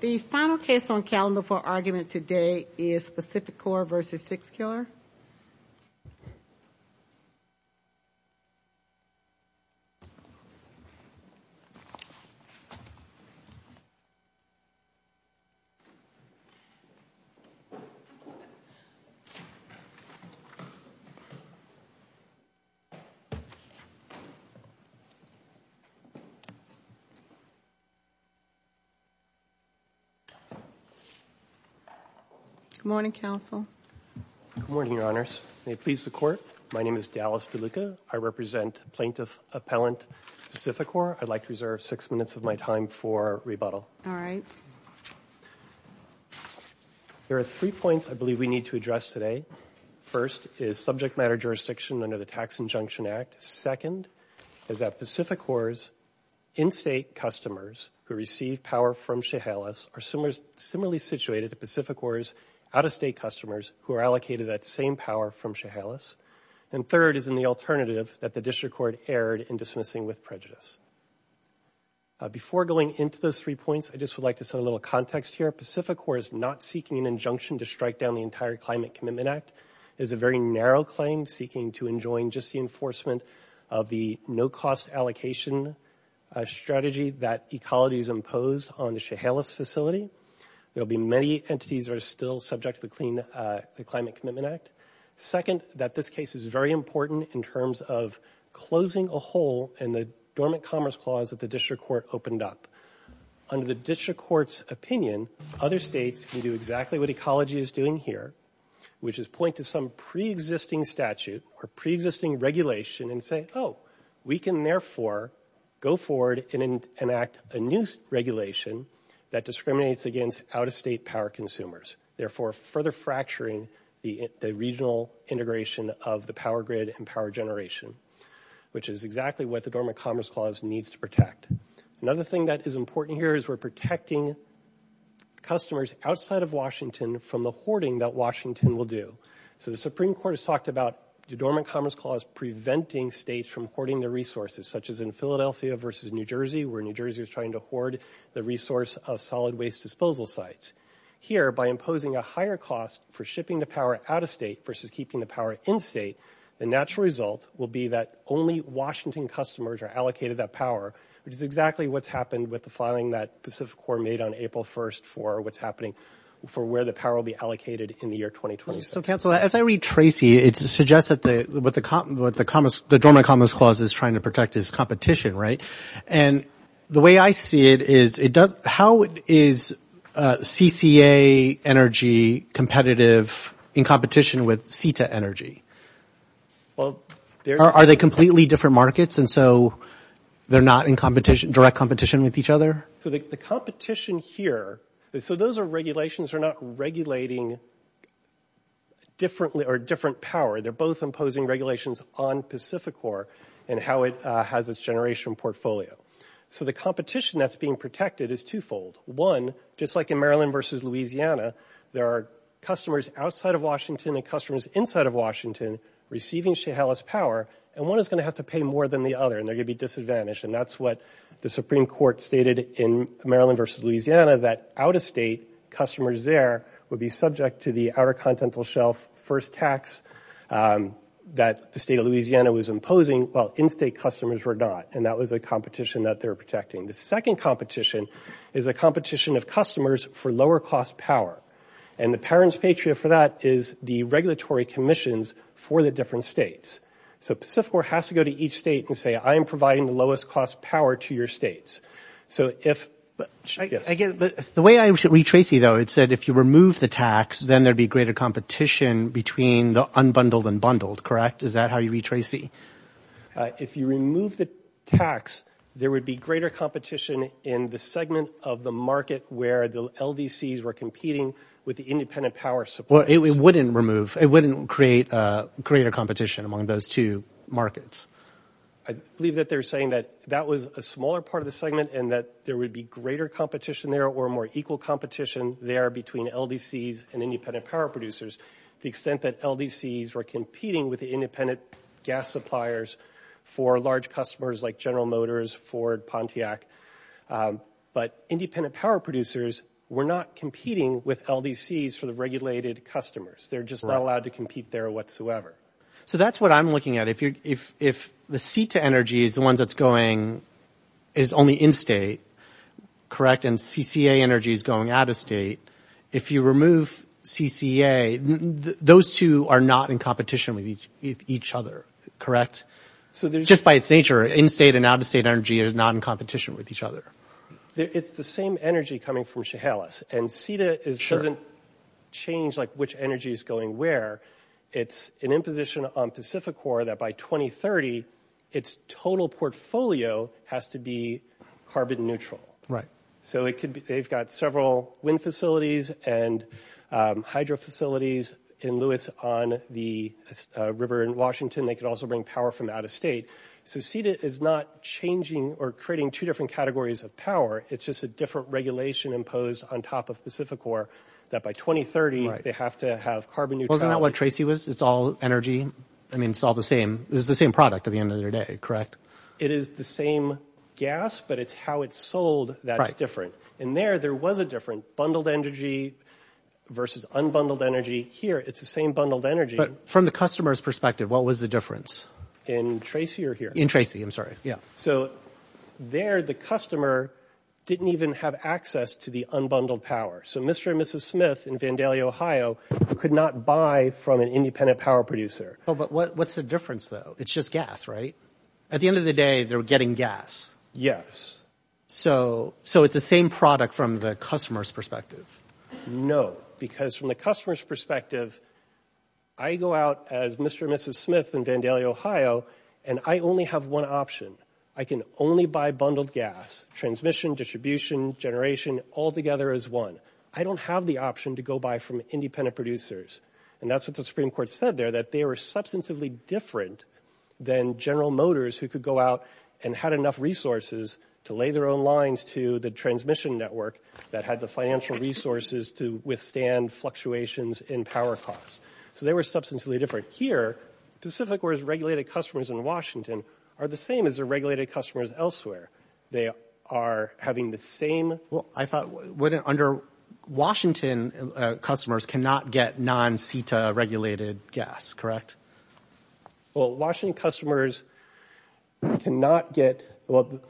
The final case on calendar for argument today is PacifiCorp v. Sixkiller. Good morning, Counsel. Good morning, Your Honors. May it please the Court, my name is Dallas DeLuca. I represent Plaintiff Appellant PacifiCorp. I'd like to reserve six minutes of my time for rebuttal. All right. There are three points I believe we need to address today. First is subject matter jurisdiction under the Tax Injunction Act. Second is that PacifiCorp's in-state customers who receive power from Chehalis are similarly situated to PacifiCorp's out-of-state customers who are allocated that same power from Chehalis. And third is in the alternative that the District Court erred in dismissing with prejudice. Before going into those three points, I just would like to set a little context here. PacifiCorp is not seeking an injunction to strike down the entire Climate Commitment Act. It is a very narrow claim seeking to enjoin just the enforcement of the no-cost allocation strategy that Ecology has imposed on the Chehalis facility. There will be many entities that are still subject to the Climate Commitment Act. Second, that this case is very important in terms of closing a hole in the Dormant Commerce Clause that the District Court opened up. Under the District Court's opinion, other states can do exactly what Ecology is doing here, which is point to some pre-existing statute or pre-existing regulation and say, oh, we can therefore go forward and enact a new regulation that discriminates against out-of-state power consumers, therefore further fracturing the regional integration of the power grid and power generation, which is exactly what the Dormant Commerce Clause needs to protect. Another thing that is important here is we're protecting customers outside of Washington from the hoarding that Washington will do. So the Supreme Court has talked about the Dormant Commerce Clause preventing states from hoarding their resources, such as in Philadelphia versus New Jersey, where New Jersey is trying to hoard the resource of solid waste disposal sites. Here, by imposing a higher cost for shipping the power out-of-state versus keeping the power in-state, the natural result will be that only Washington customers are allocated that power, which is exactly what's happened with the filing that Pacific Corps made on April 1st for what's happening for where the power will be allocated in the year 2026. So, Counselor, as I read Tracy, it suggests that what the Dormant Commerce Clause is trying to protect is competition, right? And the way I see it is how is CCA energy competitive in competition with CETA energy? Are they completely different markets, and so they're not in direct competition with each other? So the competition here, so those are regulations that are not regulating different power. They're both imposing regulations on Pacific Corps and how it has its generational portfolio. So the competition that's being protected is twofold. One, just like in Maryland versus Louisiana, there are customers outside of Washington and customers inside of Washington receiving Chehalis power, and one is going to have to pay more than the other, and they're going to be disadvantaged. And that's what the Supreme Court stated in Maryland versus Louisiana, that out-of-state customers there would be subject to the outer continental shelf first tax that the state of Louisiana was imposing while in-state customers were not, and that was a competition that they were protecting. The second competition is a competition of customers for lower-cost power, and the parents' patriot for that is the regulatory commissions for the different states. So Pacific Corps has to go to each state and say, I am providing the lowest-cost power to your states. So if – yes. But the way I read Tracy, though, it said if you remove the tax, then there would be greater competition between the unbundled and bundled, correct? Is that how you read Tracy? If you remove the tax, there would be greater competition in the segment of the market where the LDCs were competing with the independent power support. Well, it wouldn't remove – it wouldn't create greater competition among those two markets. I believe that they're saying that that was a smaller part of the segment and that there would be greater competition there or more equal competition there between LDCs and independent power producers. The extent that LDCs were competing with the independent gas suppliers for large customers like General Motors, Ford, Pontiac, but independent power producers were not competing with LDCs for the regulated customers. They're just not allowed to compete there whatsoever. So that's what I'm looking at. If the CETA energy is the ones that's going – is only in-state, correct, and CCA energy is going out-of-state, if you remove CCA, those two are not in competition with each other, correct? Just by its nature, in-state and out-of-state energy is not in competition with each other. It's the same energy coming from Chehalis, and CETA doesn't change, like, which energy is going where. It's an imposition on Pacificor that by 2030, its total portfolio has to be carbon neutral. Right. So they've got several wind facilities and hydro facilities in Lewis on the river in Washington. They could also bring power from out-of-state. So CETA is not changing or creating two different categories of power. It's just a different regulation imposed on top of Pacificor that by 2030, they have to have carbon neutrality. Wasn't that what Tracy was? It's all energy. I mean, it's all the same. It's the same product at the end of the day, correct? It is the same gas, but it's how it's sold that's different. Right. And there, there was a different bundled energy versus unbundled energy. Here, it's the same bundled energy. But from the customer's perspective, what was the difference? In Tracy or here? In Tracy, I'm sorry. Yeah. So there, the customer didn't even have access to the unbundled power. So Mr. and Mrs. Smith in Vandalia, Ohio, could not buy from an independent power producer. But what's the difference, though? It's just gas, right? At the end of the day, they're getting gas. Yes. So it's the same product from the customer's perspective. No, because from the customer's perspective, I go out as Mr. and Mrs. Smith in Vandalia, Ohio, and I only have one option. I can only buy bundled gas, transmission, distribution, generation, altogether as one. I don't have the option to go buy from independent producers. And that's what the Supreme Court said there, that they were substantively different than General Motors, who could go out and had enough resources to lay their own lines to the transmission network that had the financial resources to withstand fluctuations in power costs. So they were substantively different. Here, Pacific, where it's regulated customers in Washington, are the same as the regulated customers elsewhere. They are having the same— Well, I thought, under Washington, customers cannot get non-CETA regulated gas, correct? Well, Washington customers cannot get—well,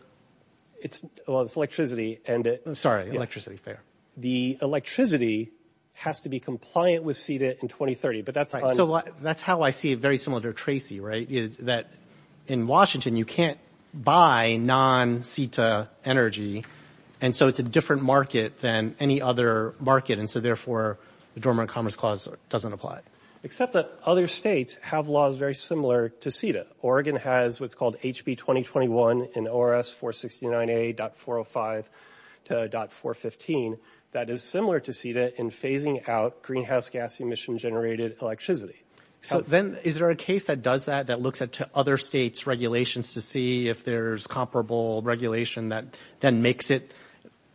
it's electricity, and it— Sorry, electricity. The electricity has to be compliant with CETA in 2030, but that's on— So that's how I see it, very similar to Tracy, right, is that in Washington, you can't buy non-CETA energy, and so it's a different market than any other market, and so therefore the Dormant Commerce Clause doesn't apply. Except that other states have laws very similar to CETA. Oregon has what's called HB 2021 in ORS 469A.405 to .415 that is similar to CETA in phasing out greenhouse gas emission-generated electricity. So then is there a case that does that, that looks at other states' regulations to see if there's comparable regulation that then makes it,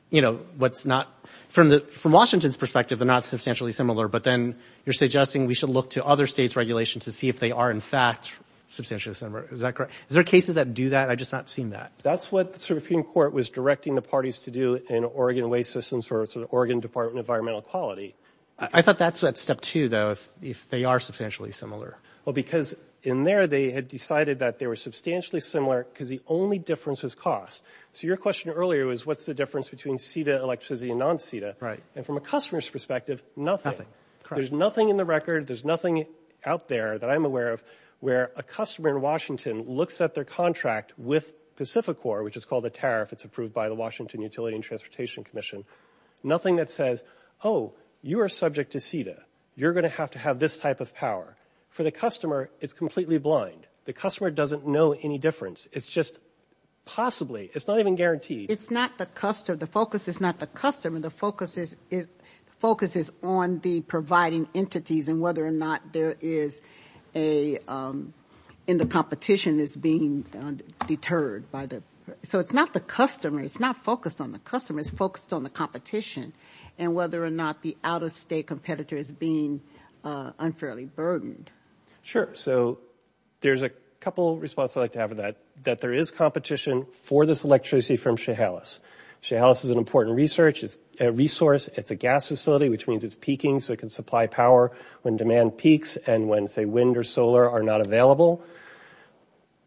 you know, what's not— From Washington's perspective, they're not substantially similar, but then you're suggesting we should look to other states' regulations to see if they are, in fact, substantially similar. Is that correct? Is there cases that do that? I've just not seen that. That's what the Supreme Court was directing the parties to do in Oregon waste systems for the Oregon Department of Environmental Quality. I thought that's at step two, though, if they are substantially similar. Well, because in there, they had decided that they were substantially similar because the only difference was cost. So your question earlier was what's the difference between CETA electricity and non-CETA. And from a customer's perspective, nothing. There's nothing in the record, there's nothing out there that I'm aware of where a customer in Washington looks at their contract with Pacificor, which is called a tariff, it's approved by the Washington Utility and Transportation Commission, nothing that says, oh, you are subject to CETA, you're going to have to have this type of power. For the customer, it's completely blind. The customer doesn't know any difference. It's just possibly, it's not even guaranteed. It's not the customer, the focus is not the customer, the focus is on the providing entities and whether or not there is a competition is being deterred. So it's not the customer, it's not focused on the customer, it's focused on the competition and whether or not the out-of-state competitor is being unfairly burdened. Sure, so there's a couple of responses I'd like to have to that, that there is competition for this electricity from Chehalis. Chehalis is an important resource. It's a gas facility, which means it's peaking so it can supply power when demand peaks and when, say, wind or solar are not available.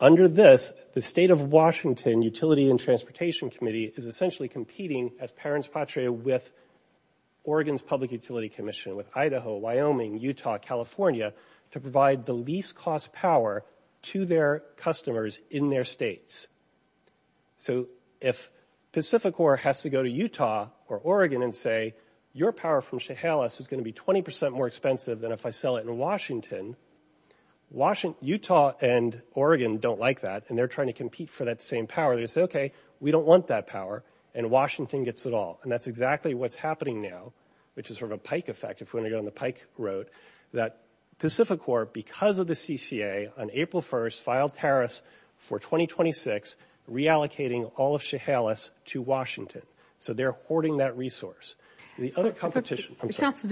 Under this, the State of Washington Utility and Transportation Committee is essentially competing, as parents patria, with Oregon's Public Utility Commission, with Idaho, Wyoming, Utah, California, to provide the least-cost power to their customers in their states. So if Pacificor has to go to Utah or Oregon and say, your power from Chehalis is going to be 20% more expensive than if I sell it in Washington, Utah and Oregon don't like that and they're trying to compete for that same power. They say, okay, we don't want that power and Washington gets it all. And that's exactly what's happening now, which is sort of a pike effect, if we want to get on the pike road, that Pacificor, because of the CCA, on April 1st filed tariffs for 2026, reallocating all of Chehalis to Washington. So they're hoarding that resource. The other competition, I'm sorry. Counsel,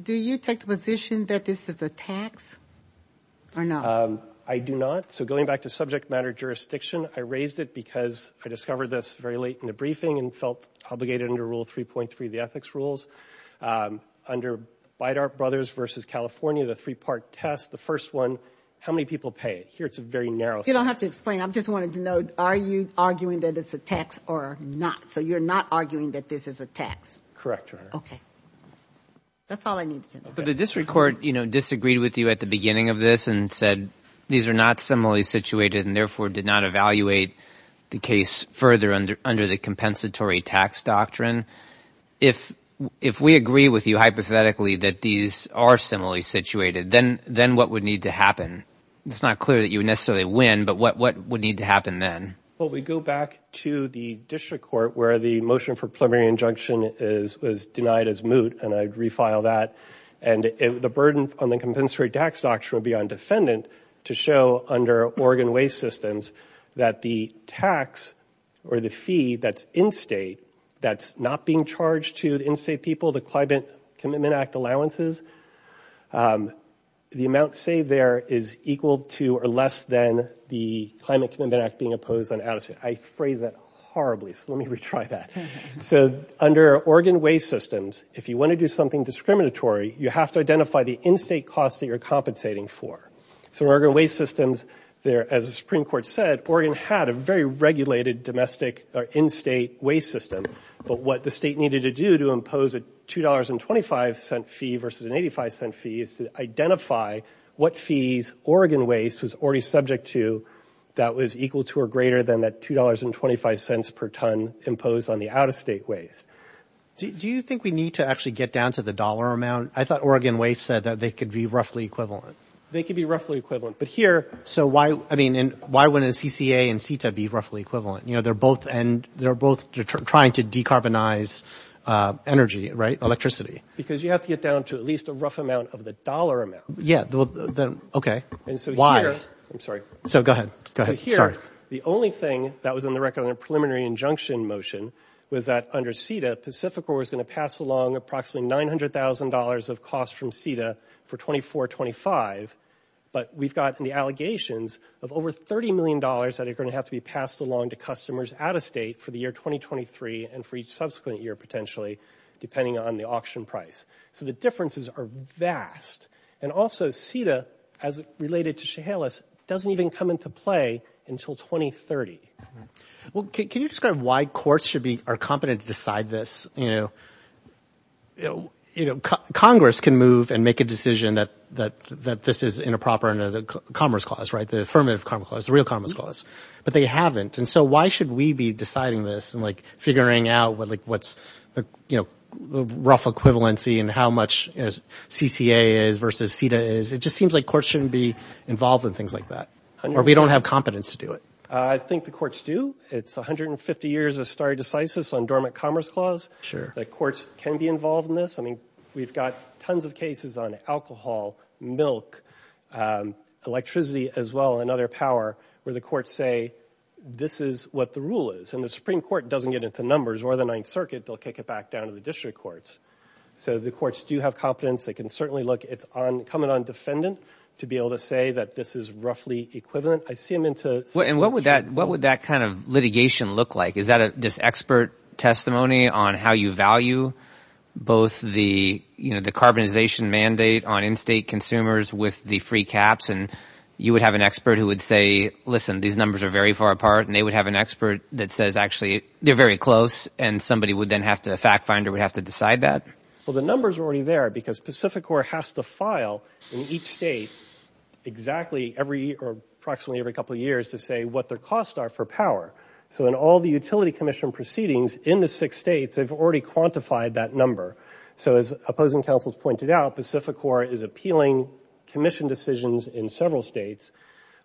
do you take the position that this is a tax or not? I do not. So going back to subject matter jurisdiction, I raised it because I discovered this very late in the briefing and felt obligated under Rule 3.3 of the ethics rules. Under Beidart Brothers v. California, the three-part test, the first one, how many people pay? Here it's a very narrow subject. You don't have to explain. I just wanted to know, are you arguing that it's a tax or not? So you're not arguing that this is a tax? Correct, Your Honor. Okay. That's all I need to know. But the district court disagreed with you at the beginning of this and said these are not similarly situated and, therefore, did not evaluate the case further under the compensatory tax doctrine. If we agree with you hypothetically that these are similarly situated, then what would need to happen? It's not clear that you would necessarily win, but what would need to happen then? Well, we go back to the district court where the motion for preliminary injunction is denied as moot, and I'd refile that. And the burden on the compensatory tax doctrine will be on defendant to show under Oregon Waste Systems that the tax or the fee that's in-state that's not being charged to the in-state people, the Climate Commitment Act allowances, the amount saved there is equal to or less than the Climate Commitment Act being opposed on out-of-state. I phrased that horribly, so let me retry that. So under Oregon Waste Systems, if you want to do something discriminatory, you have to identify the in-state costs that you're compensating for. So in Oregon Waste Systems, as the Supreme Court said, Oregon had a very regulated domestic or in-state waste system. But what the state needed to do to impose a $2.25 fee versus an $0.85 fee is to identify what fees Oregon Waste was already subject to that was equal to or greater than that $2.25 per ton imposed on the out-of-state waste. Do you think we need to actually get down to the dollar amount? I thought Oregon Waste said that they could be roughly equivalent. They could be roughly equivalent. But here – So why – I mean, why wouldn't CCA and CETA be roughly equivalent? You know, they're both – and they're both trying to decarbonize energy, right, electricity. Because you have to get down to at least a rough amount of the dollar amount. Yeah. Okay. Why? I'm sorry. So go ahead. Sorry. So here, the only thing that was on the record on the preliminary injunction motion was that under CETA, Pacificor was going to pass along approximately $900,000 of costs from CETA for 2024-2025. But we've got the allegations of over $30 million that are going to have to be passed along to customers out-of-state for the year 2023 and for each subsequent year, potentially, depending on the auction price. So the differences are vast. And also, CETA, as related to Chehalis, doesn't even come into play until 2030. Well, can you describe why courts should be – are competent to decide this? You know, Congress can move and make a decision that this is inappropriate under the Commerce Clause, right, the Affirmative Commerce Clause, the real Commerce Clause. But they haven't. And so why should we be deciding this and, like, figuring out, like, what's, you know, the rough equivalency and how much CCA is versus CETA is? It just seems like courts shouldn't be involved in things like that. Or we don't have competence to do it. I think the courts do. It's 150 years of stare decisis on dormant Commerce Clause. Sure. The courts can be involved in this. I mean, we've got tons of cases on alcohol, milk, electricity as well, and other power, where the courts say this is what the rule is. And the Supreme Court doesn't get into numbers or the Ninth Circuit. They'll kick it back down to the district courts. So the courts do have competence. They can certainly look. It's coming on defendant to be able to say that this is roughly equivalent. I see them into CCA. And what would that kind of litigation look like? Is that just expert testimony on how you value both the, you know, the carbonization mandate on in-state consumers with the free caps? And you would have an expert who would say, listen, these numbers are very far apart. And they would have an expert that says, actually, they're very close. And somebody would then have to, a fact finder would have to decide that? Well, the numbers are already there because Pacific Corp has to file in each state exactly every year or approximately every couple of years to say what their costs are for power. So in all the utility commission proceedings in the six states, they've already quantified that number. So as opposing counsels pointed out, Pacific Corp is appealing commission decisions in several states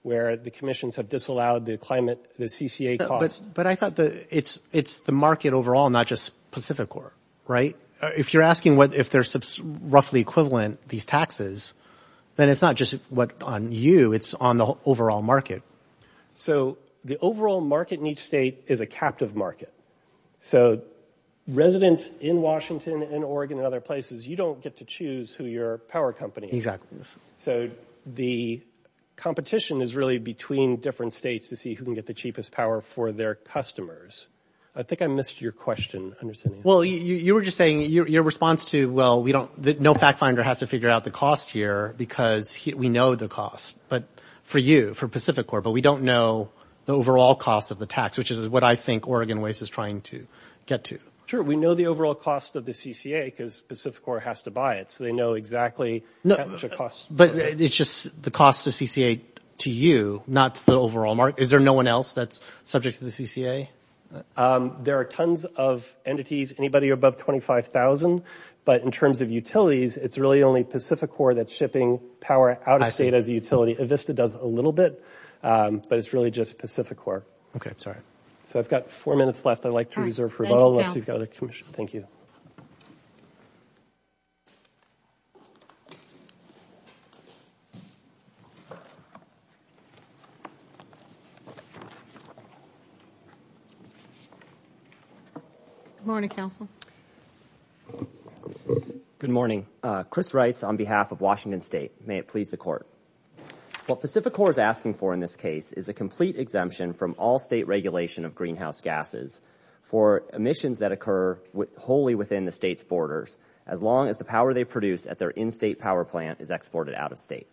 where the commissions have disallowed the climate, the CCA costs. But I thought it's the market overall, not just Pacific Corp, right? If you're asking if they're roughly equivalent, these taxes, then it's not just on you. It's on the overall market. So the overall market in each state is a captive market. So residents in Washington and Oregon and other places, you don't get to choose who your power company is. So the competition is really between different states to see who can get the cheapest power for their customers. I think I missed your question. Well, you were just saying your response to, well, no fact finder has to figure out the cost here because we know the cost for you, for Pacific Corp. But we don't know the overall cost of the tax, which is what I think Oregon Waste is trying to get to. Sure. We know the overall cost of the CCA because Pacific Corp has to buy it. So they know exactly how much it costs. But it's just the cost of CCA to you, not the overall market. Is there no one else that's subject to the CCA? There are tons of entities, anybody above $25,000. But in terms of utilities, it's really only Pacific Corp that's shipping power out of state as a utility. Avista does a little bit, but it's really just Pacific Corp. Okay. Sorry. So I've got four minutes left. I'd like to reserve for a moment. Thank you. Thank you. Good morning, counsel. Good morning. Chris writes on behalf of Washington State. May it please the court. What Pacific Corp is asking for in this case is a complete exemption from all state regulation of greenhouse gases for emissions that occur wholly within the state's borders, as long as the power they produce at their in-state power plant is exported out of state.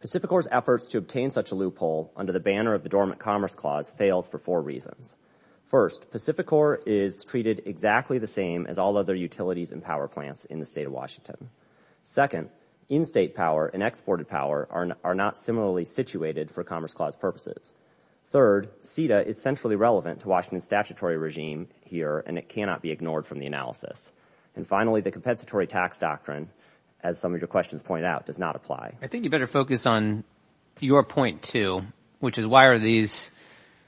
Pacific Corp's efforts to obtain such a loophole under the banner of the Dormant Commerce Clause fails for four reasons. First, Pacific Corp is treated exactly the same as all other utilities and power plants in the state of Washington. Second, in-state power and exported power are not similarly situated for Commerce Clause purposes. Third, CETA is centrally relevant to Washington's statutory regime here, and it cannot be ignored from the analysis. And finally, the compensatory tax doctrine, as some of your questions point out, does not apply. I think you better focus on your point too, which is why are these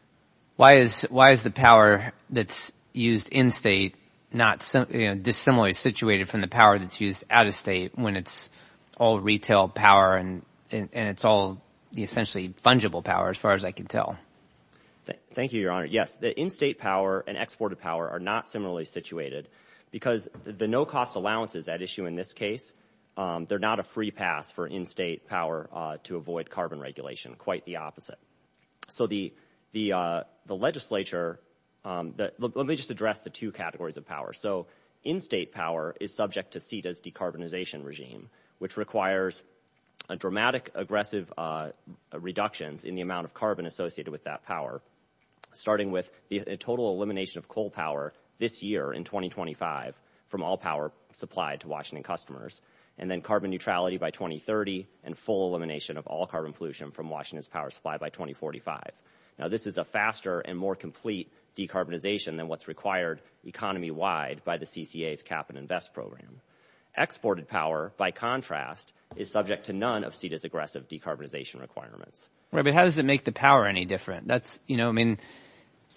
– why is the power that's used in-state not – dissimilarly situated from the power that's used out-of-state when it's all retail power and it's all essentially fungible power as far as I can tell? Thank you, Your Honor. Yes, the in-state power and exported power are not similarly situated because the no-cost allowances at issue in this case, they're not a free pass for in-state power to avoid carbon regulation. Quite the opposite. So the legislature – let me just address the two categories of power. So in-state power is subject to CETA's decarbonization regime, which requires dramatic, aggressive reductions in the amount of carbon associated with that power, starting with a total elimination of coal power this year in 2025 from all power supplied to Washington customers, and then carbon neutrality by 2030 and full elimination of all carbon pollution from Washington's power supply by 2045. Now, this is a faster and more complete decarbonization than what's required economy-wide by the CCA's cap-and-invest program. Exported power, by contrast, is subject to none of CETA's aggressive decarbonization requirements. How does it make the power any different?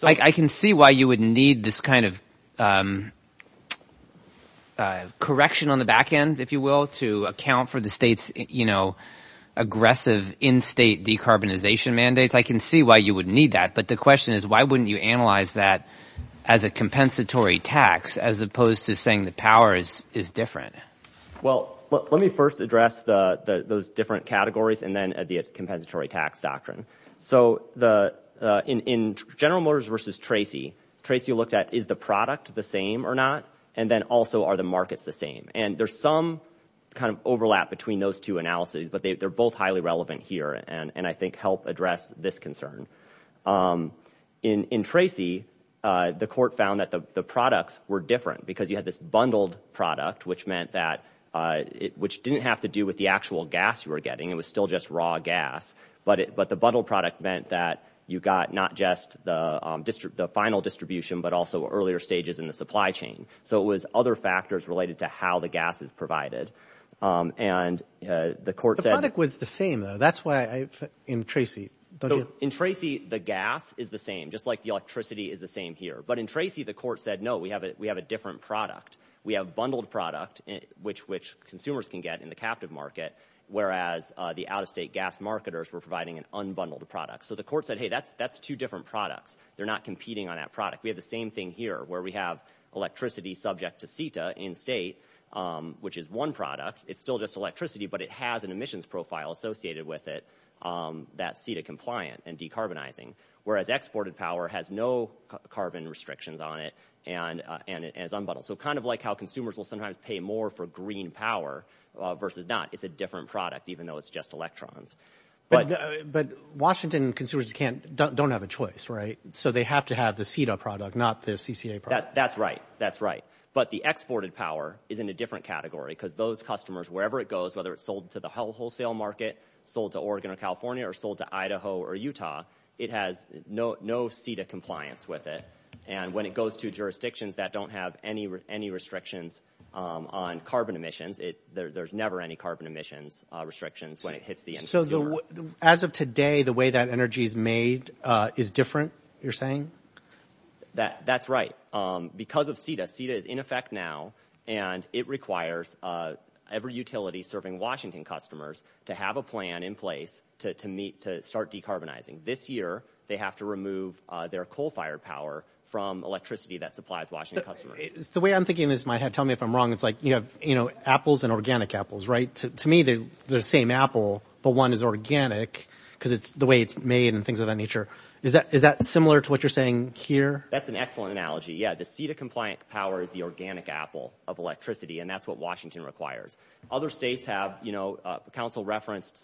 I can see why you would need this kind of correction on the back end, if you will, to account for the state's aggressive in-state decarbonization mandates. I can see why you would need that, but the question is why wouldn't you analyze that as a compensatory tax as opposed to saying the power is different? Well, let me first address those different categories and then the compensatory tax doctrine. So in General Motors v. Tracy, Tracy looked at is the product the same or not, and then also are the markets the same? And there's some kind of overlap between those two analyses, but they're both highly relevant here and I think help address this concern. In Tracy, the court found that the products were different because you had this bundled product, which meant that it didn't have to do with the actual gas you were getting. It was still just raw gas, but the bundled product meant that you got not just the final distribution but also earlier stages in the supply chain. So it was other factors related to how the gas is provided. The product was the same, though. In Tracy, the gas is the same, just like the electricity is the same here. But in Tracy, the court said, no, we have a different product. We have bundled product, which consumers can get in the captive market, whereas the out-of-state gas marketers were providing an unbundled product. So the court said, hey, that's two different products. They're not competing on that product. We have the same thing here where we have electricity subject to CETA in-state, which is one product. It's still just electricity, but it has an emissions profile associated with it that's CETA compliant and decarbonizing, whereas exported power has no carbon restrictions on it and is unbundled. So kind of like how consumers will sometimes pay more for green power versus not. It's a different product, even though it's just electrons. But Washington consumers don't have a choice, right? So they have to have the CETA product, not the CCA product. That's right. But the exported power is in a different category because those customers, wherever it goes, whether it's sold to the wholesale market, sold to Oregon or California or sold to Idaho or Utah, it has no CETA compliance with it. And when it goes to jurisdictions that don't have any restrictions on carbon emissions, there's never any carbon emissions restrictions when it hits the consumer. So as of today, the way that energy is made is different, you're saying? That's right. Because of CETA, CETA is in effect now, and it requires every utility serving Washington customers to have a plan in place to start decarbonizing. This year, they have to remove their coal-fired power from electricity that supplies Washington customers. The way I'm thinking this, tell me if I'm wrong, it's like you have apples and organic apples, right? To me, they're the same apple, but one is organic because it's the way it's made and things of that nature. Is that similar to what you're saying here? That's an excellent analogy. Yeah, the CETA-compliant power is the organic apple of electricity, and that's what Washington requires. Other states have, you know, council referenced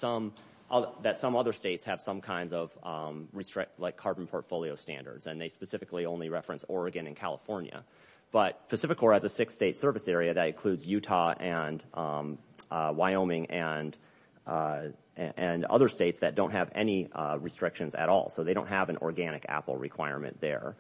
that some other states have some kinds of carbon portfolio standards, and they specifically only reference Oregon and California. But Pacific Core has a six-state service area that includes Utah and Wyoming and other states that don't have any restrictions at all, so they don't have an organic apple requirement there.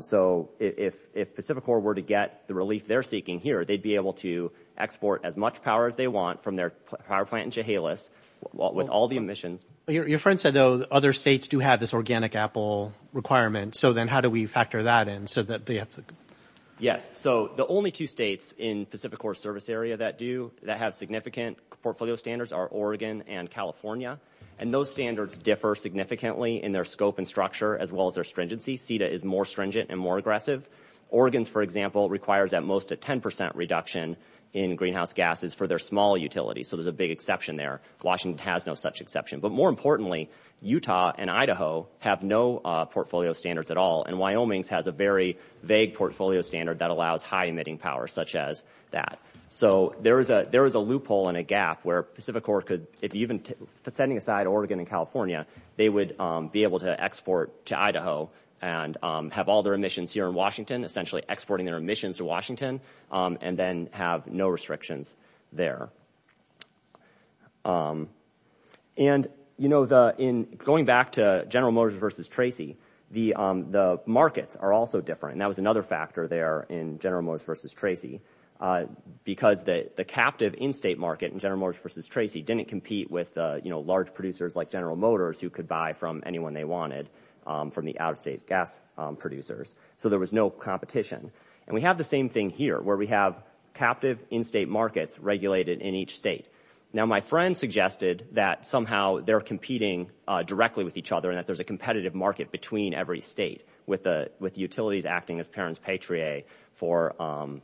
So if Pacific Core were to get the relief they're seeking here, they'd be able to export as much power as they want from their power plant in Chehalis with all the emissions. Your friend said, though, other states do have this organic apple requirement. So then how do we factor that in? Yes, so the only two states in Pacific Core's service area that do, that have significant portfolio standards, are Oregon and California, and those standards differ significantly in their scope and structure as well as their stringency. CETA is more stringent and more aggressive. Oregon, for example, requires at most a 10 percent reduction in greenhouse gases for their small utilities, so there's a big exception there. Washington has no such exception. But more importantly, Utah and Idaho have no portfolio standards at all, and Wyoming has a very vague portfolio standard that allows high emitting power such as that. So there is a loophole and a gap where Pacific Core could, even setting aside Oregon and California, they would be able to export to Idaho and have all their emissions here in Washington, essentially exporting their emissions to Washington, and then have no restrictions there. And, you know, going back to General Motors versus Tracy, the markets are also different, and that was another factor there in General Motors versus Tracy, because the captive in-state market in General Motors versus Tracy didn't compete with, you know, large producers like General Motors who could buy from anyone they wanted from the out-of-state gas producers, so there was no competition. And we have the same thing here, where we have captive in-state markets regulated in each state. Now, my friend suggested that somehow they're competing directly with each other and that there's a competitive market between every state with utilities acting as parent's patriot for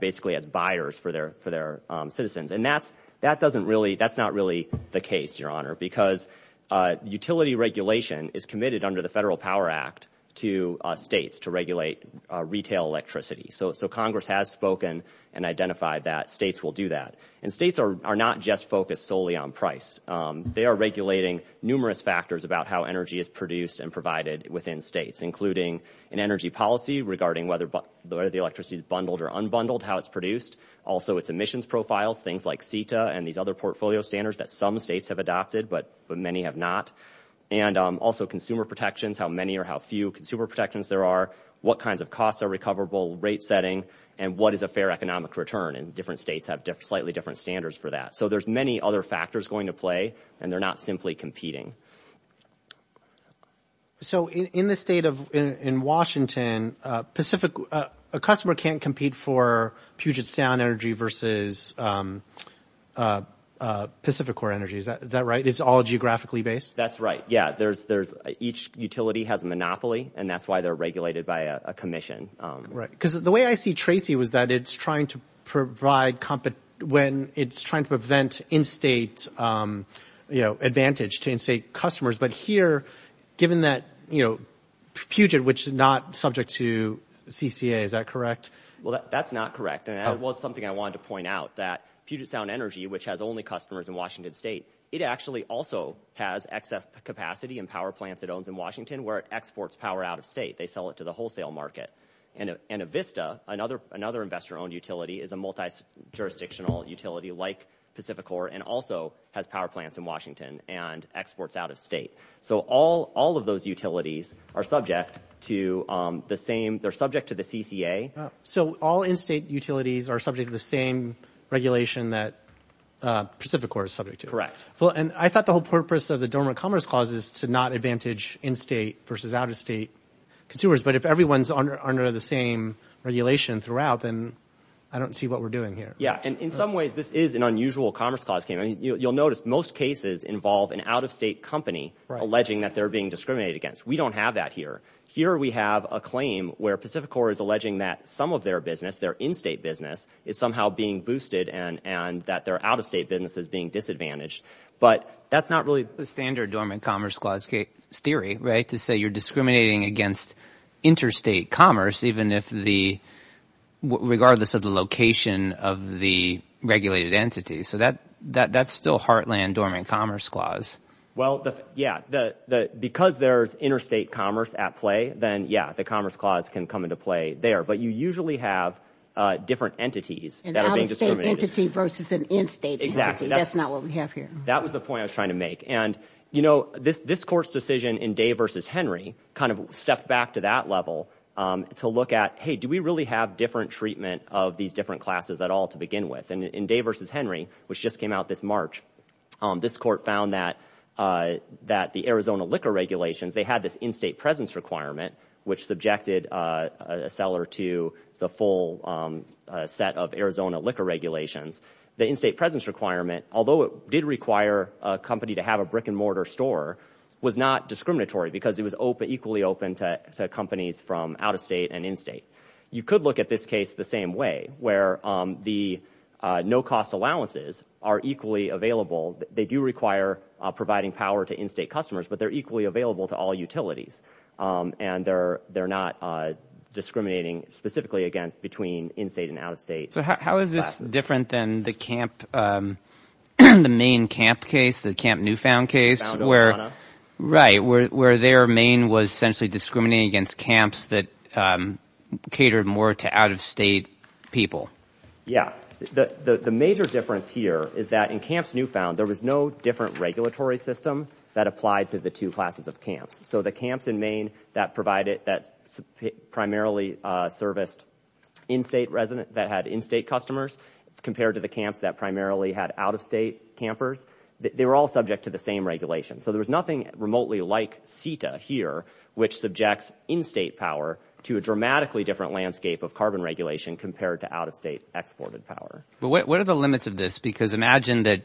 basically as buyers for their citizens. And that's not really the case, Your Honor, because utility regulation is committed under the Federal Power Act to states to regulate retail electricity. So Congress has spoken and identified that states will do that. And states are not just focused solely on price. They are regulating numerous factors about how energy is produced and provided within states, including an energy policy regarding whether the electricity is bundled or unbundled, how it's produced, also its emissions profiles, things like CETA and these other portfolio standards that some states have adopted, but many have not, and also consumer protections, how many or how few consumer protections there are, what kinds of costs are recoverable, rate setting, and what is a fair economic return, and different states have slightly different standards for that. So there's many other factors going to play, and they're not simply competing. So in the state of Washington, a customer can't compete for Puget Sound Energy versus Pacific Core Energy. Is that right? It's all geographically based? That's right, yeah. Each utility has a monopoly, and that's why they're regulated by a commission. Because the way I see Tracy was that it's trying to provide when it's trying to prevent in-state advantage to in-state customers. But here, given that Puget, which is not subject to CCA, is that correct? Well, that's not correct, and that was something I wanted to point out, that Puget Sound Energy, which has only customers in Washington State, it actually also has excess capacity in power plants it owns in Washington where it exports power out of state. They sell it to the wholesale market. And Avista, another investor-owned utility, is a multi-jurisdictional utility like Pacific Core and also has power plants in Washington and exports out of state. So all of those utilities are subject to the CCA. So all in-state utilities are subject to the same regulation that Pacific Core is subject to? Correct. Well, and I thought the whole purpose of the Dormant Commerce Clause is to not advantage in-state versus out-of-state consumers. But if everyone's under the same regulation throughout, then I don't see what we're doing here. Yeah, and in some ways this is an unusual Commerce Clause. You'll notice most cases involve an out-of-state company alleging that they're being discriminated against. We don't have that here. Here we have a claim where Pacific Core is alleging that some of their business, their in-state business, is somehow being boosted and that their out-of-state business is being disadvantaged. But that's not really the standard Dormant Commerce Clause theory, right, to say you're discriminating against interstate commerce regardless of the location of the regulated entity. So that's still heartland Dormant Commerce Clause. Well, yeah, because there's interstate commerce at play, then, yeah, the Commerce Clause can come into play there. But you usually have different entities that are being discriminated against. An out-of-state entity versus an in-state entity. That's not what we have here. That was the point I was trying to make. And, you know, this Court's decision in Day v. Henry kind of stepped back to that level to look at, hey, do we really have different treatment of these different classes at all to begin with? And in Day v. Henry, which just came out this March, this Court found that the Arizona liquor regulations, they had this in-state presence requirement, which subjected a seller to the full set of Arizona liquor regulations. The in-state presence requirement, although it did require a company to have a brick-and-mortar store, was not discriminatory because it was equally open to companies from out-of-state and in-state. You could look at this case the same way, where the no-cost allowances are equally available. They do require providing power to in-state customers, but they're equally available to all utilities. And they're not discriminating specifically against between in-state and out-of-state classes. So how is this different than the camp, the Maine camp case, the Camp Newfound case? Where their Maine was essentially discriminating against camps that catered more to out-of-state people. Yeah, the major difference here is that in Camps Newfound, there was no different regulatory system that applied to the two classes of camps. So the camps in Maine that provided, that primarily serviced in-state residents, that had in-state customers, compared to the camps that primarily had out-of-state campers, they were all subject to the same regulations. So there was nothing remotely like CETA here, which subjects in-state power to a dramatically different landscape of carbon regulation compared to out-of-state exported power. What are the limits of this? Because imagine that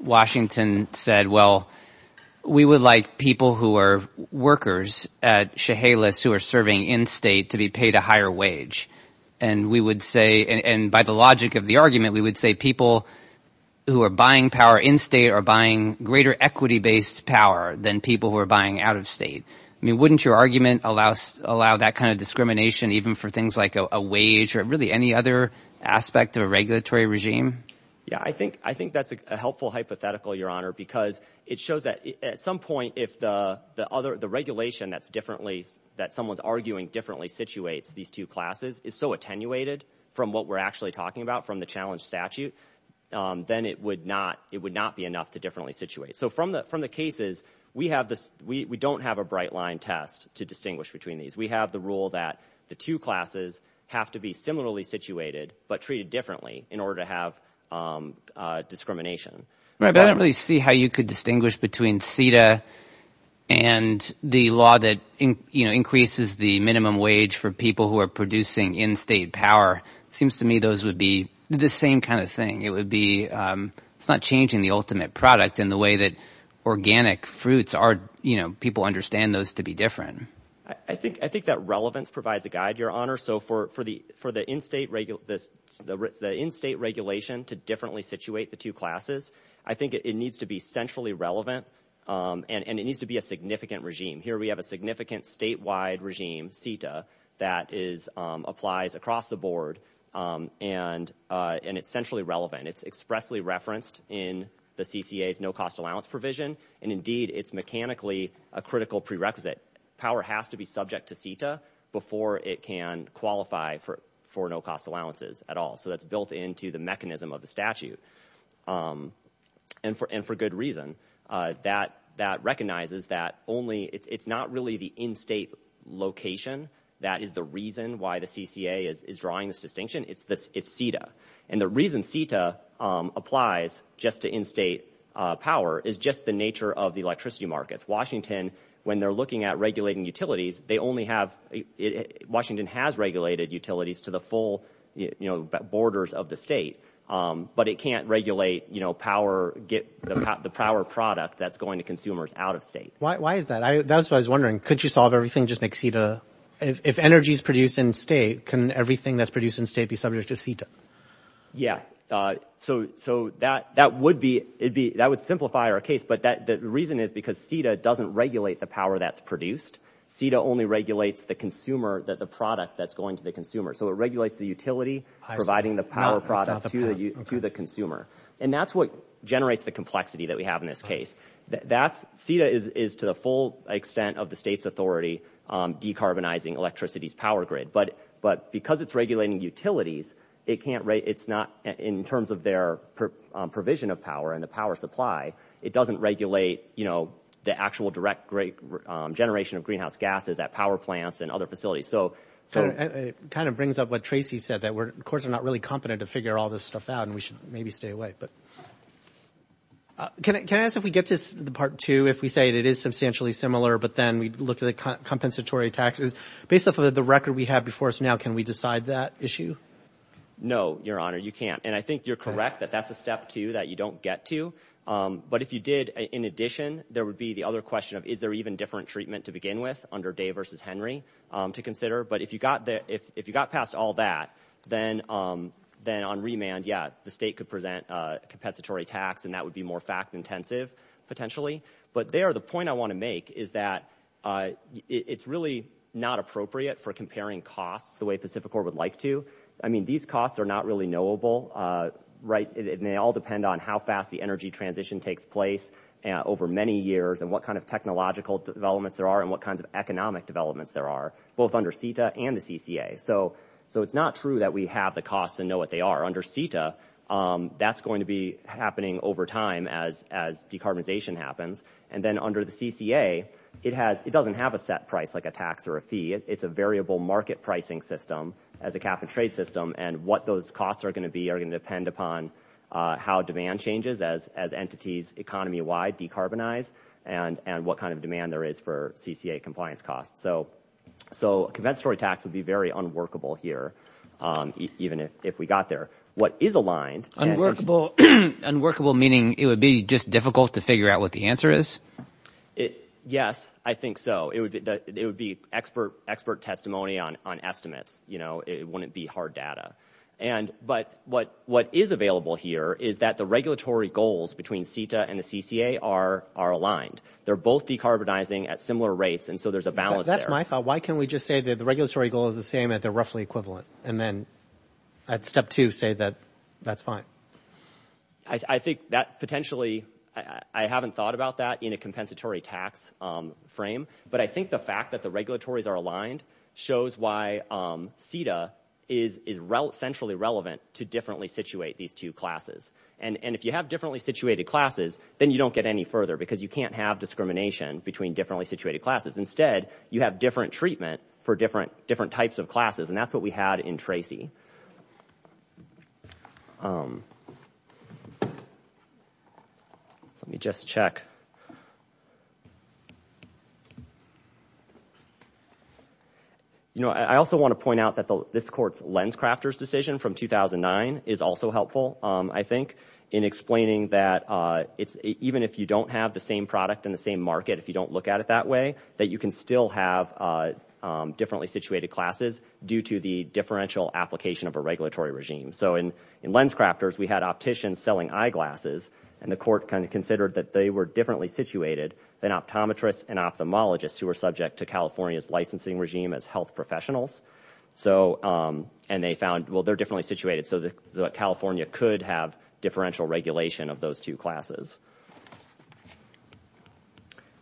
Washington said, well, we would like people who are workers at Chehalis, who are serving in-state, to be paid a higher wage. And we would say, and by the logic of the argument, we would say people who are buying power in-state are buying greater equity-based power than people who are buying out-of-state. I mean, wouldn't your argument allow that kind of discrimination even for things like a wage or really any other aspect of a regulatory regime? Yeah, I think that's a helpful hypothetical, Your Honor, because it shows that at some point if the regulation that someone's arguing differently situates these two classes is so attenuated from what we're actually talking about from the challenge statute, then it would not be enough to differently situate. So from the cases, we don't have a bright line test to distinguish between these. We have the rule that the two classes have to be similarly situated but treated differently in order to have discrimination. I don't really see how you could distinguish between CETA and the law that increases the minimum wage for people who are producing in-state power. It seems to me those would be the same kind of thing. It's not changing the ultimate product in the way that organic fruits are. People understand those to be different. I think that relevance provides a guide, Your Honor. So for the in-state regulation to differently situate the two classes, I think it needs to be centrally relevant and it needs to be a significant regime. Here we have a significant statewide regime, CETA, that applies across the board and it's centrally relevant. It's expressly referenced in the CCA's no-cost allowance provision, and indeed it's mechanically a critical prerequisite. Power has to be subject to CETA before it can qualify for no-cost allowances at all. So that's built into the mechanism of the statute, and for good reason. That recognizes that it's not really the in-state location that is the reason why the CCA is drawing this distinction. It's CETA. And the reason CETA applies just to in-state power is just the nature of the electricity markets. Washington, when they're looking at regulating utilities, Washington has regulated utilities to the full borders of the state, but it can't regulate the power product that's going to consumers out of state. Why is that? That's what I was wondering. Could you solve everything just like CETA? If energy is produced in state, can everything that's produced in state be subject to CETA? Yeah. So that would simplify our case, but the reason is because CETA doesn't regulate the power that's produced. CETA only regulates the consumer, the product that's going to the consumer. So it regulates the utility providing the power product to the consumer. And that's what generates the complexity that we have in this case. CETA is, to the full extent of the state's authority, decarbonizing electricity's power grid. But because it's regulating utilities, it's not in terms of their provision of power and the power supply, it doesn't regulate the actual direct generation of greenhouse gases at power plants and other facilities. It kind of brings up what Tracy said, that of course we're not really competent to figure all this stuff out, and we should maybe stay away. Can I ask if we get to the part two, if we say it is substantially similar, but then we look at the compensatory taxes? Based off of the record we have before us now, can we decide that issue? No, Your Honor, you can't. And I think you're correct that that's a step two that you don't get to. But if you did, in addition, there would be the other question of, is there even different treatment to begin with under Day v. Henry to consider? But if you got past all that, then on remand, yeah, the state could present a compensatory tax, and that would be more fact-intensive, potentially. But there, the point I want to make is that it's really not appropriate for comparing costs the way Pacific Corp would like to. I mean, these costs are not really knowable, right? They all depend on how fast the energy transition takes place over many years and what kind of technological developments there are and what kinds of economic developments there are, both under CETA and the CCA. So it's not true that we have the costs and know what they are. Under CETA, that's going to be happening over time as decarbonization happens. And then under the CCA, it doesn't have a set price like a tax or a fee. It's a variable market pricing system as a cap-and-trade system, and what those costs are going to be are going to depend upon how demand changes as entities economy-wide decarbonize and what kind of demand there is for CCA compliance costs. So a compensatory tax would be very unworkable here, even if we got there. What is aligned— Unworkable meaning it would be just difficult to figure out what the answer is? Yes, I think so. It would be expert testimony on estimates. It wouldn't be hard data. But what is available here is that the regulatory goals between CETA and the CCA are aligned. They're both decarbonizing at similar rates, and so there's a balance there. That's my thought. Why can't we just say that the regulatory goal is the same at the roughly equivalent and then at step two say that that's fine? I think that potentially—I haven't thought about that in a compensatory tax frame, but I think the fact that the regulatories are aligned shows why CETA is centrally relevant to differently situate these two classes. And if you have differently situated classes, then you don't get any further because you can't have discrimination between differently situated classes. Instead, you have different treatment for different types of classes, and that's what we had in TRACIE. Let me just check. I also want to point out that this court's LensCrafters decision from 2009 is also helpful, I think, in explaining that even if you don't have the same product in the same market, if you don't look at it that way, that you can still have differently situated classes due to the differential application of a regulatory regime. So in LensCrafters, we had opticians selling eyeglasses, and the court considered that they were differently situated than optometrists and ophthalmologists who were subject to California's licensing regime as health professionals. And they found, well, they're differently situated, so California could have differential regulation of those two classes.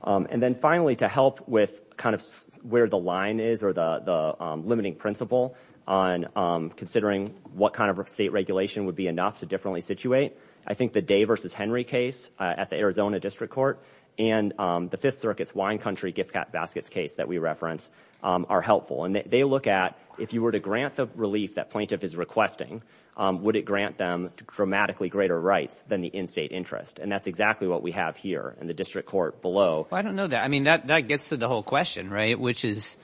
And then finally, to help with kind of where the line is or the limiting principle on considering what kind of state regulation would be enough to differently situate, I think the Day v. Henry case at the Arizona District Court and the Fifth Circuit's Wine Country gift basket case that we referenced are helpful. And they look at if you were to grant the relief that plaintiff is requesting, would it grant them dramatically greater rights than the in-state interest? And that's exactly what we have here in the district court below. I don't know that. I mean, that gets to the whole question, right, which is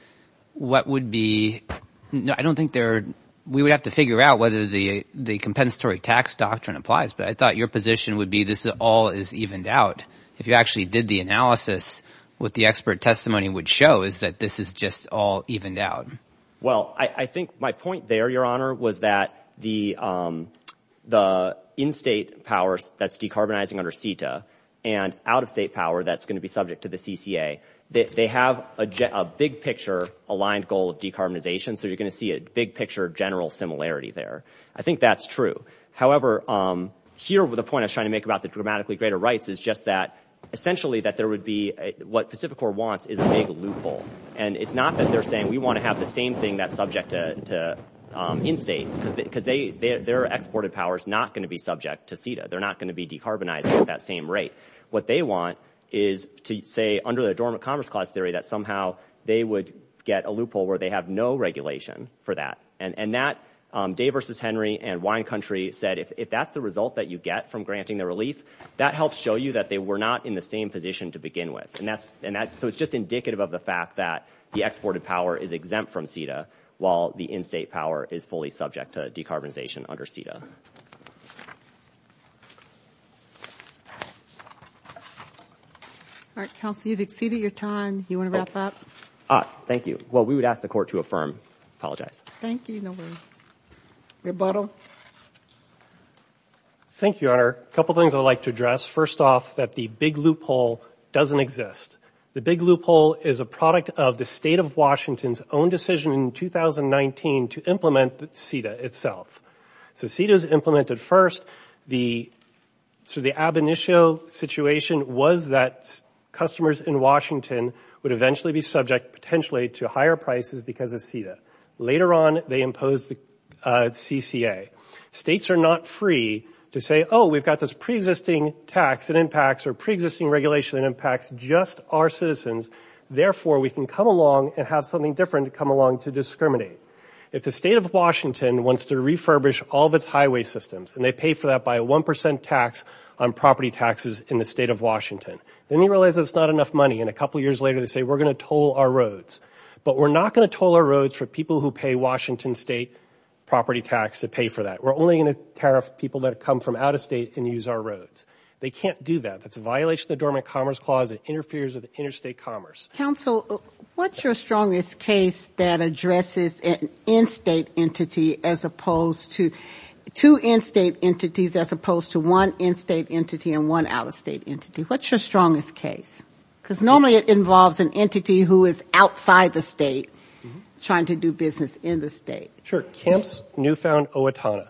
what would be – I don't think there – we would have to figure out whether the compensatory tax doctrine applies, but I thought your position would be this all is evened out. If you actually did the analysis, what the expert testimony would show is that this is just all evened out. Well, I think my point there, Your Honor, was that the in-state powers that's decarbonizing under CETA and out-of-state power that's going to be subject to the CCA, they have a big-picture aligned goal of decarbonization, so you're going to see a big-picture general similarity there. I think that's true. However, here the point I was trying to make about the dramatically greater rights is just that essentially that there would be – what Pacificor wants is a big loophole. And it's not that they're saying we want to have the same thing that's subject to in-state because their exported power is not going to be subject to CETA. They're not going to be decarbonizing at that same rate. What they want is to say under the Adornment Commerce Clause theory that somehow they would get a loophole where they have no regulation for that. And that – Day v. Henry and Wine Country said if that's the result that you get from granting the relief, that helps show you that they were not in the same position to begin with. And that's – so it's just indicative of the fact that the exported power is exempt from CETA while the in-state power is fully subject to decarbonization under CETA. All right, Counsel, you've exceeded your time. Do you want to wrap up? Thank you. Well, we would ask the Court to affirm. Apologize. Thank you. No worries. Rebuttal. Thank you, Honor. A couple things I'd like to address. First off, that the big loophole doesn't exist. The big loophole is a product of the State of Washington's own decision in 2019 to implement CETA itself. So CETA is implemented first. The – so the ab initio situation was that customers in Washington would eventually be subject, potentially, to higher prices because of CETA. Later on, they imposed the CCA. States are not free to say, oh, we've got this preexisting tax that impacts or preexisting regulation that impacts just our citizens. Therefore, we can come along and have something different come along to discriminate. If the State of Washington wants to refurbish all of its highway systems, and they pay for that by a 1 percent tax on property taxes in the State of Washington, then you realize that it's not enough money. And a couple years later, they say, we're going to toll our roads. But we're not going to toll our roads for people who pay Washington State property tax to pay for that. We're only going to tariff people that come from out-of-state and use our roads. They can't do that. That's a violation of the Dormant Commerce Clause. It interferes with interstate commerce. Counsel, what's your strongest case that addresses an in-state entity as opposed to – two in-state entities as opposed to one in-state entity and one out-of-state entity? What's your strongest case? Because normally it involves an entity who is outside the state trying to do business in the state. Kemp's Newfound Owatonna.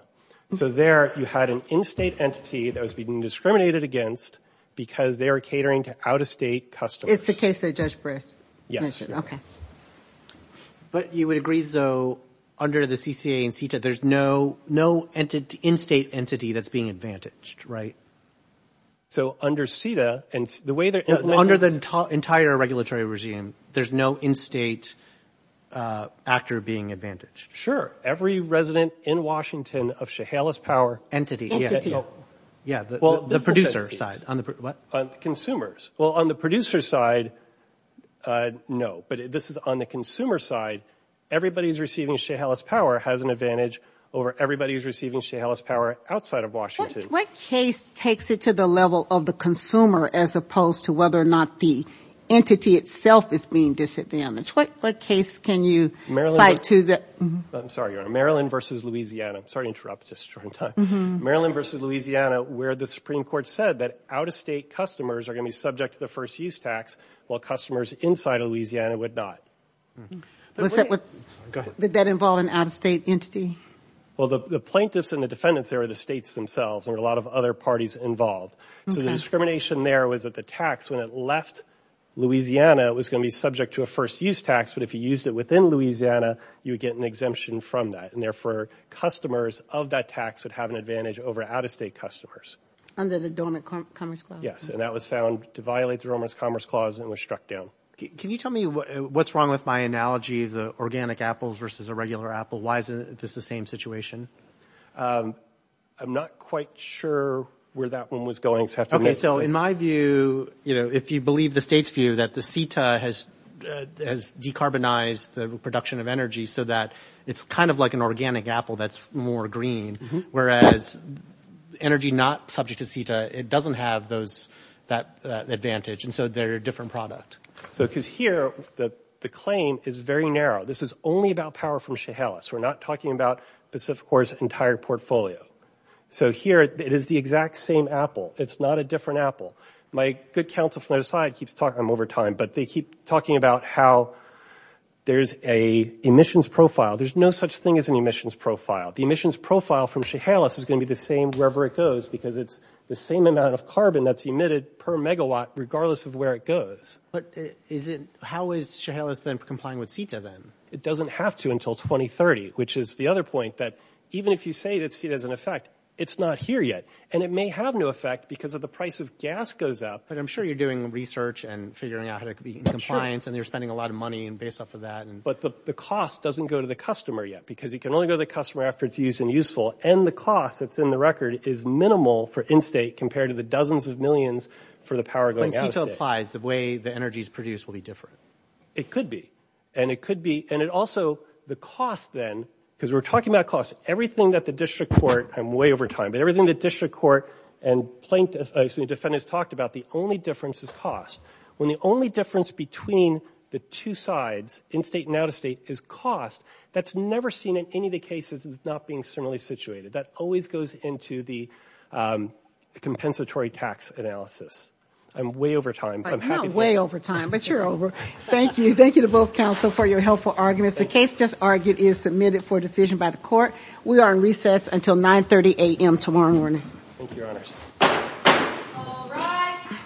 So there you had an in-state entity that was being discriminated against because they were catering to out-of-state customers. It's the case that Judge Briss mentioned. Okay. But you would agree, though, under the CCA and CETA, there's no in-state entity that's being advantaged, right? So under CETA – Under the entire regulatory regime, there's no in-state actor being advantaged. Sure. Every resident in Washington of Chehalis Power – Entity. Yeah, the producer side. Consumers. Well, on the producer side, no. But this is on the consumer side. Everybody who's receiving Chehalis Power has an advantage over everybody who's receiving Chehalis Power outside of Washington. What case takes it to the level of the consumer as opposed to whether or not the entity itself is being disadvantaged? What case can you cite to the – Maryland – I'm sorry, Your Honor. Maryland v. Louisiana. I'm sorry to interrupt. It's just a short time. Maryland v. Louisiana, where the Supreme Court said that out-of-state customers are going to be subject to the first-use tax, while customers inside Louisiana would not. Was that with – Go ahead. Did that involve an out-of-state entity? Well, the plaintiffs and the defendants there were the states themselves. There were a lot of other parties involved. So the discrimination there was that the tax, when it left Louisiana, was going to be subject to a first-use tax. But if you used it within Louisiana, you would get an exemption from that. And therefore, customers of that tax would have an advantage over out-of-state customers. Under the Donut Commerce Clause. Yes, and that was found to violate the Romer's Commerce Clause and was struck down. Can you tell me what's wrong with my analogy, the organic apples versus a regular apple? Why is this the same situation? I'm not quite sure where that one was going. Okay, so in my view, if you believe the state's view that the CETA has decarbonized the production of energy so that it's kind of like an organic apple that's more green, whereas energy not subject to CETA, it doesn't have that advantage. And so they're a different product. Because here, the claim is very narrow. This is only about power from Chehalis. We're not talking about Pacific Core's entire portfolio. So here, it is the exact same apple. It's not a different apple. My good counsel from the other side keeps talking, I'm over time, but they keep talking about how there's a emissions profile. There's no such thing as an emissions profile. The emissions profile from Chehalis is going to be the same wherever it goes because it's the same amount of carbon that's emitted per megawatt regardless of where it goes. But how is Chehalis then complying with CETA then? It doesn't have to until 2030, which is the other point, that even if you say that CETA has an effect, it's not here yet. And it may have no effect because if the price of gas goes up. But I'm sure you're doing research and figuring out how to be in compliance and you're spending a lot of money based off of that. But the cost doesn't go to the customer yet because it can only go to the customer after it's used and useful. And the cost that's in the record is minimal for in-state compared to the dozens of millions for the power going out of state. So if CETA applies, the way the energy is produced will be different. It could be. And it could be. And it also, the cost then, because we're talking about cost, everything that the district court, I'm way over time, but everything the district court and plaintiffs, excuse me, defendants talked about, the only difference is cost. When the only difference between the two sides, in-state and out-of-state, is cost, that's never seen in any of the cases as not being similarly situated. That always goes into the compensatory tax analysis. I'm way over time. I'm not way over time, but you're over. Thank you. Thank you to both counsel for your helpful arguments. The case just argued is submitted for decision by the court. We are in recess until 9.30 a.m. tomorrow morning. Thank you, Your Honors. All rise.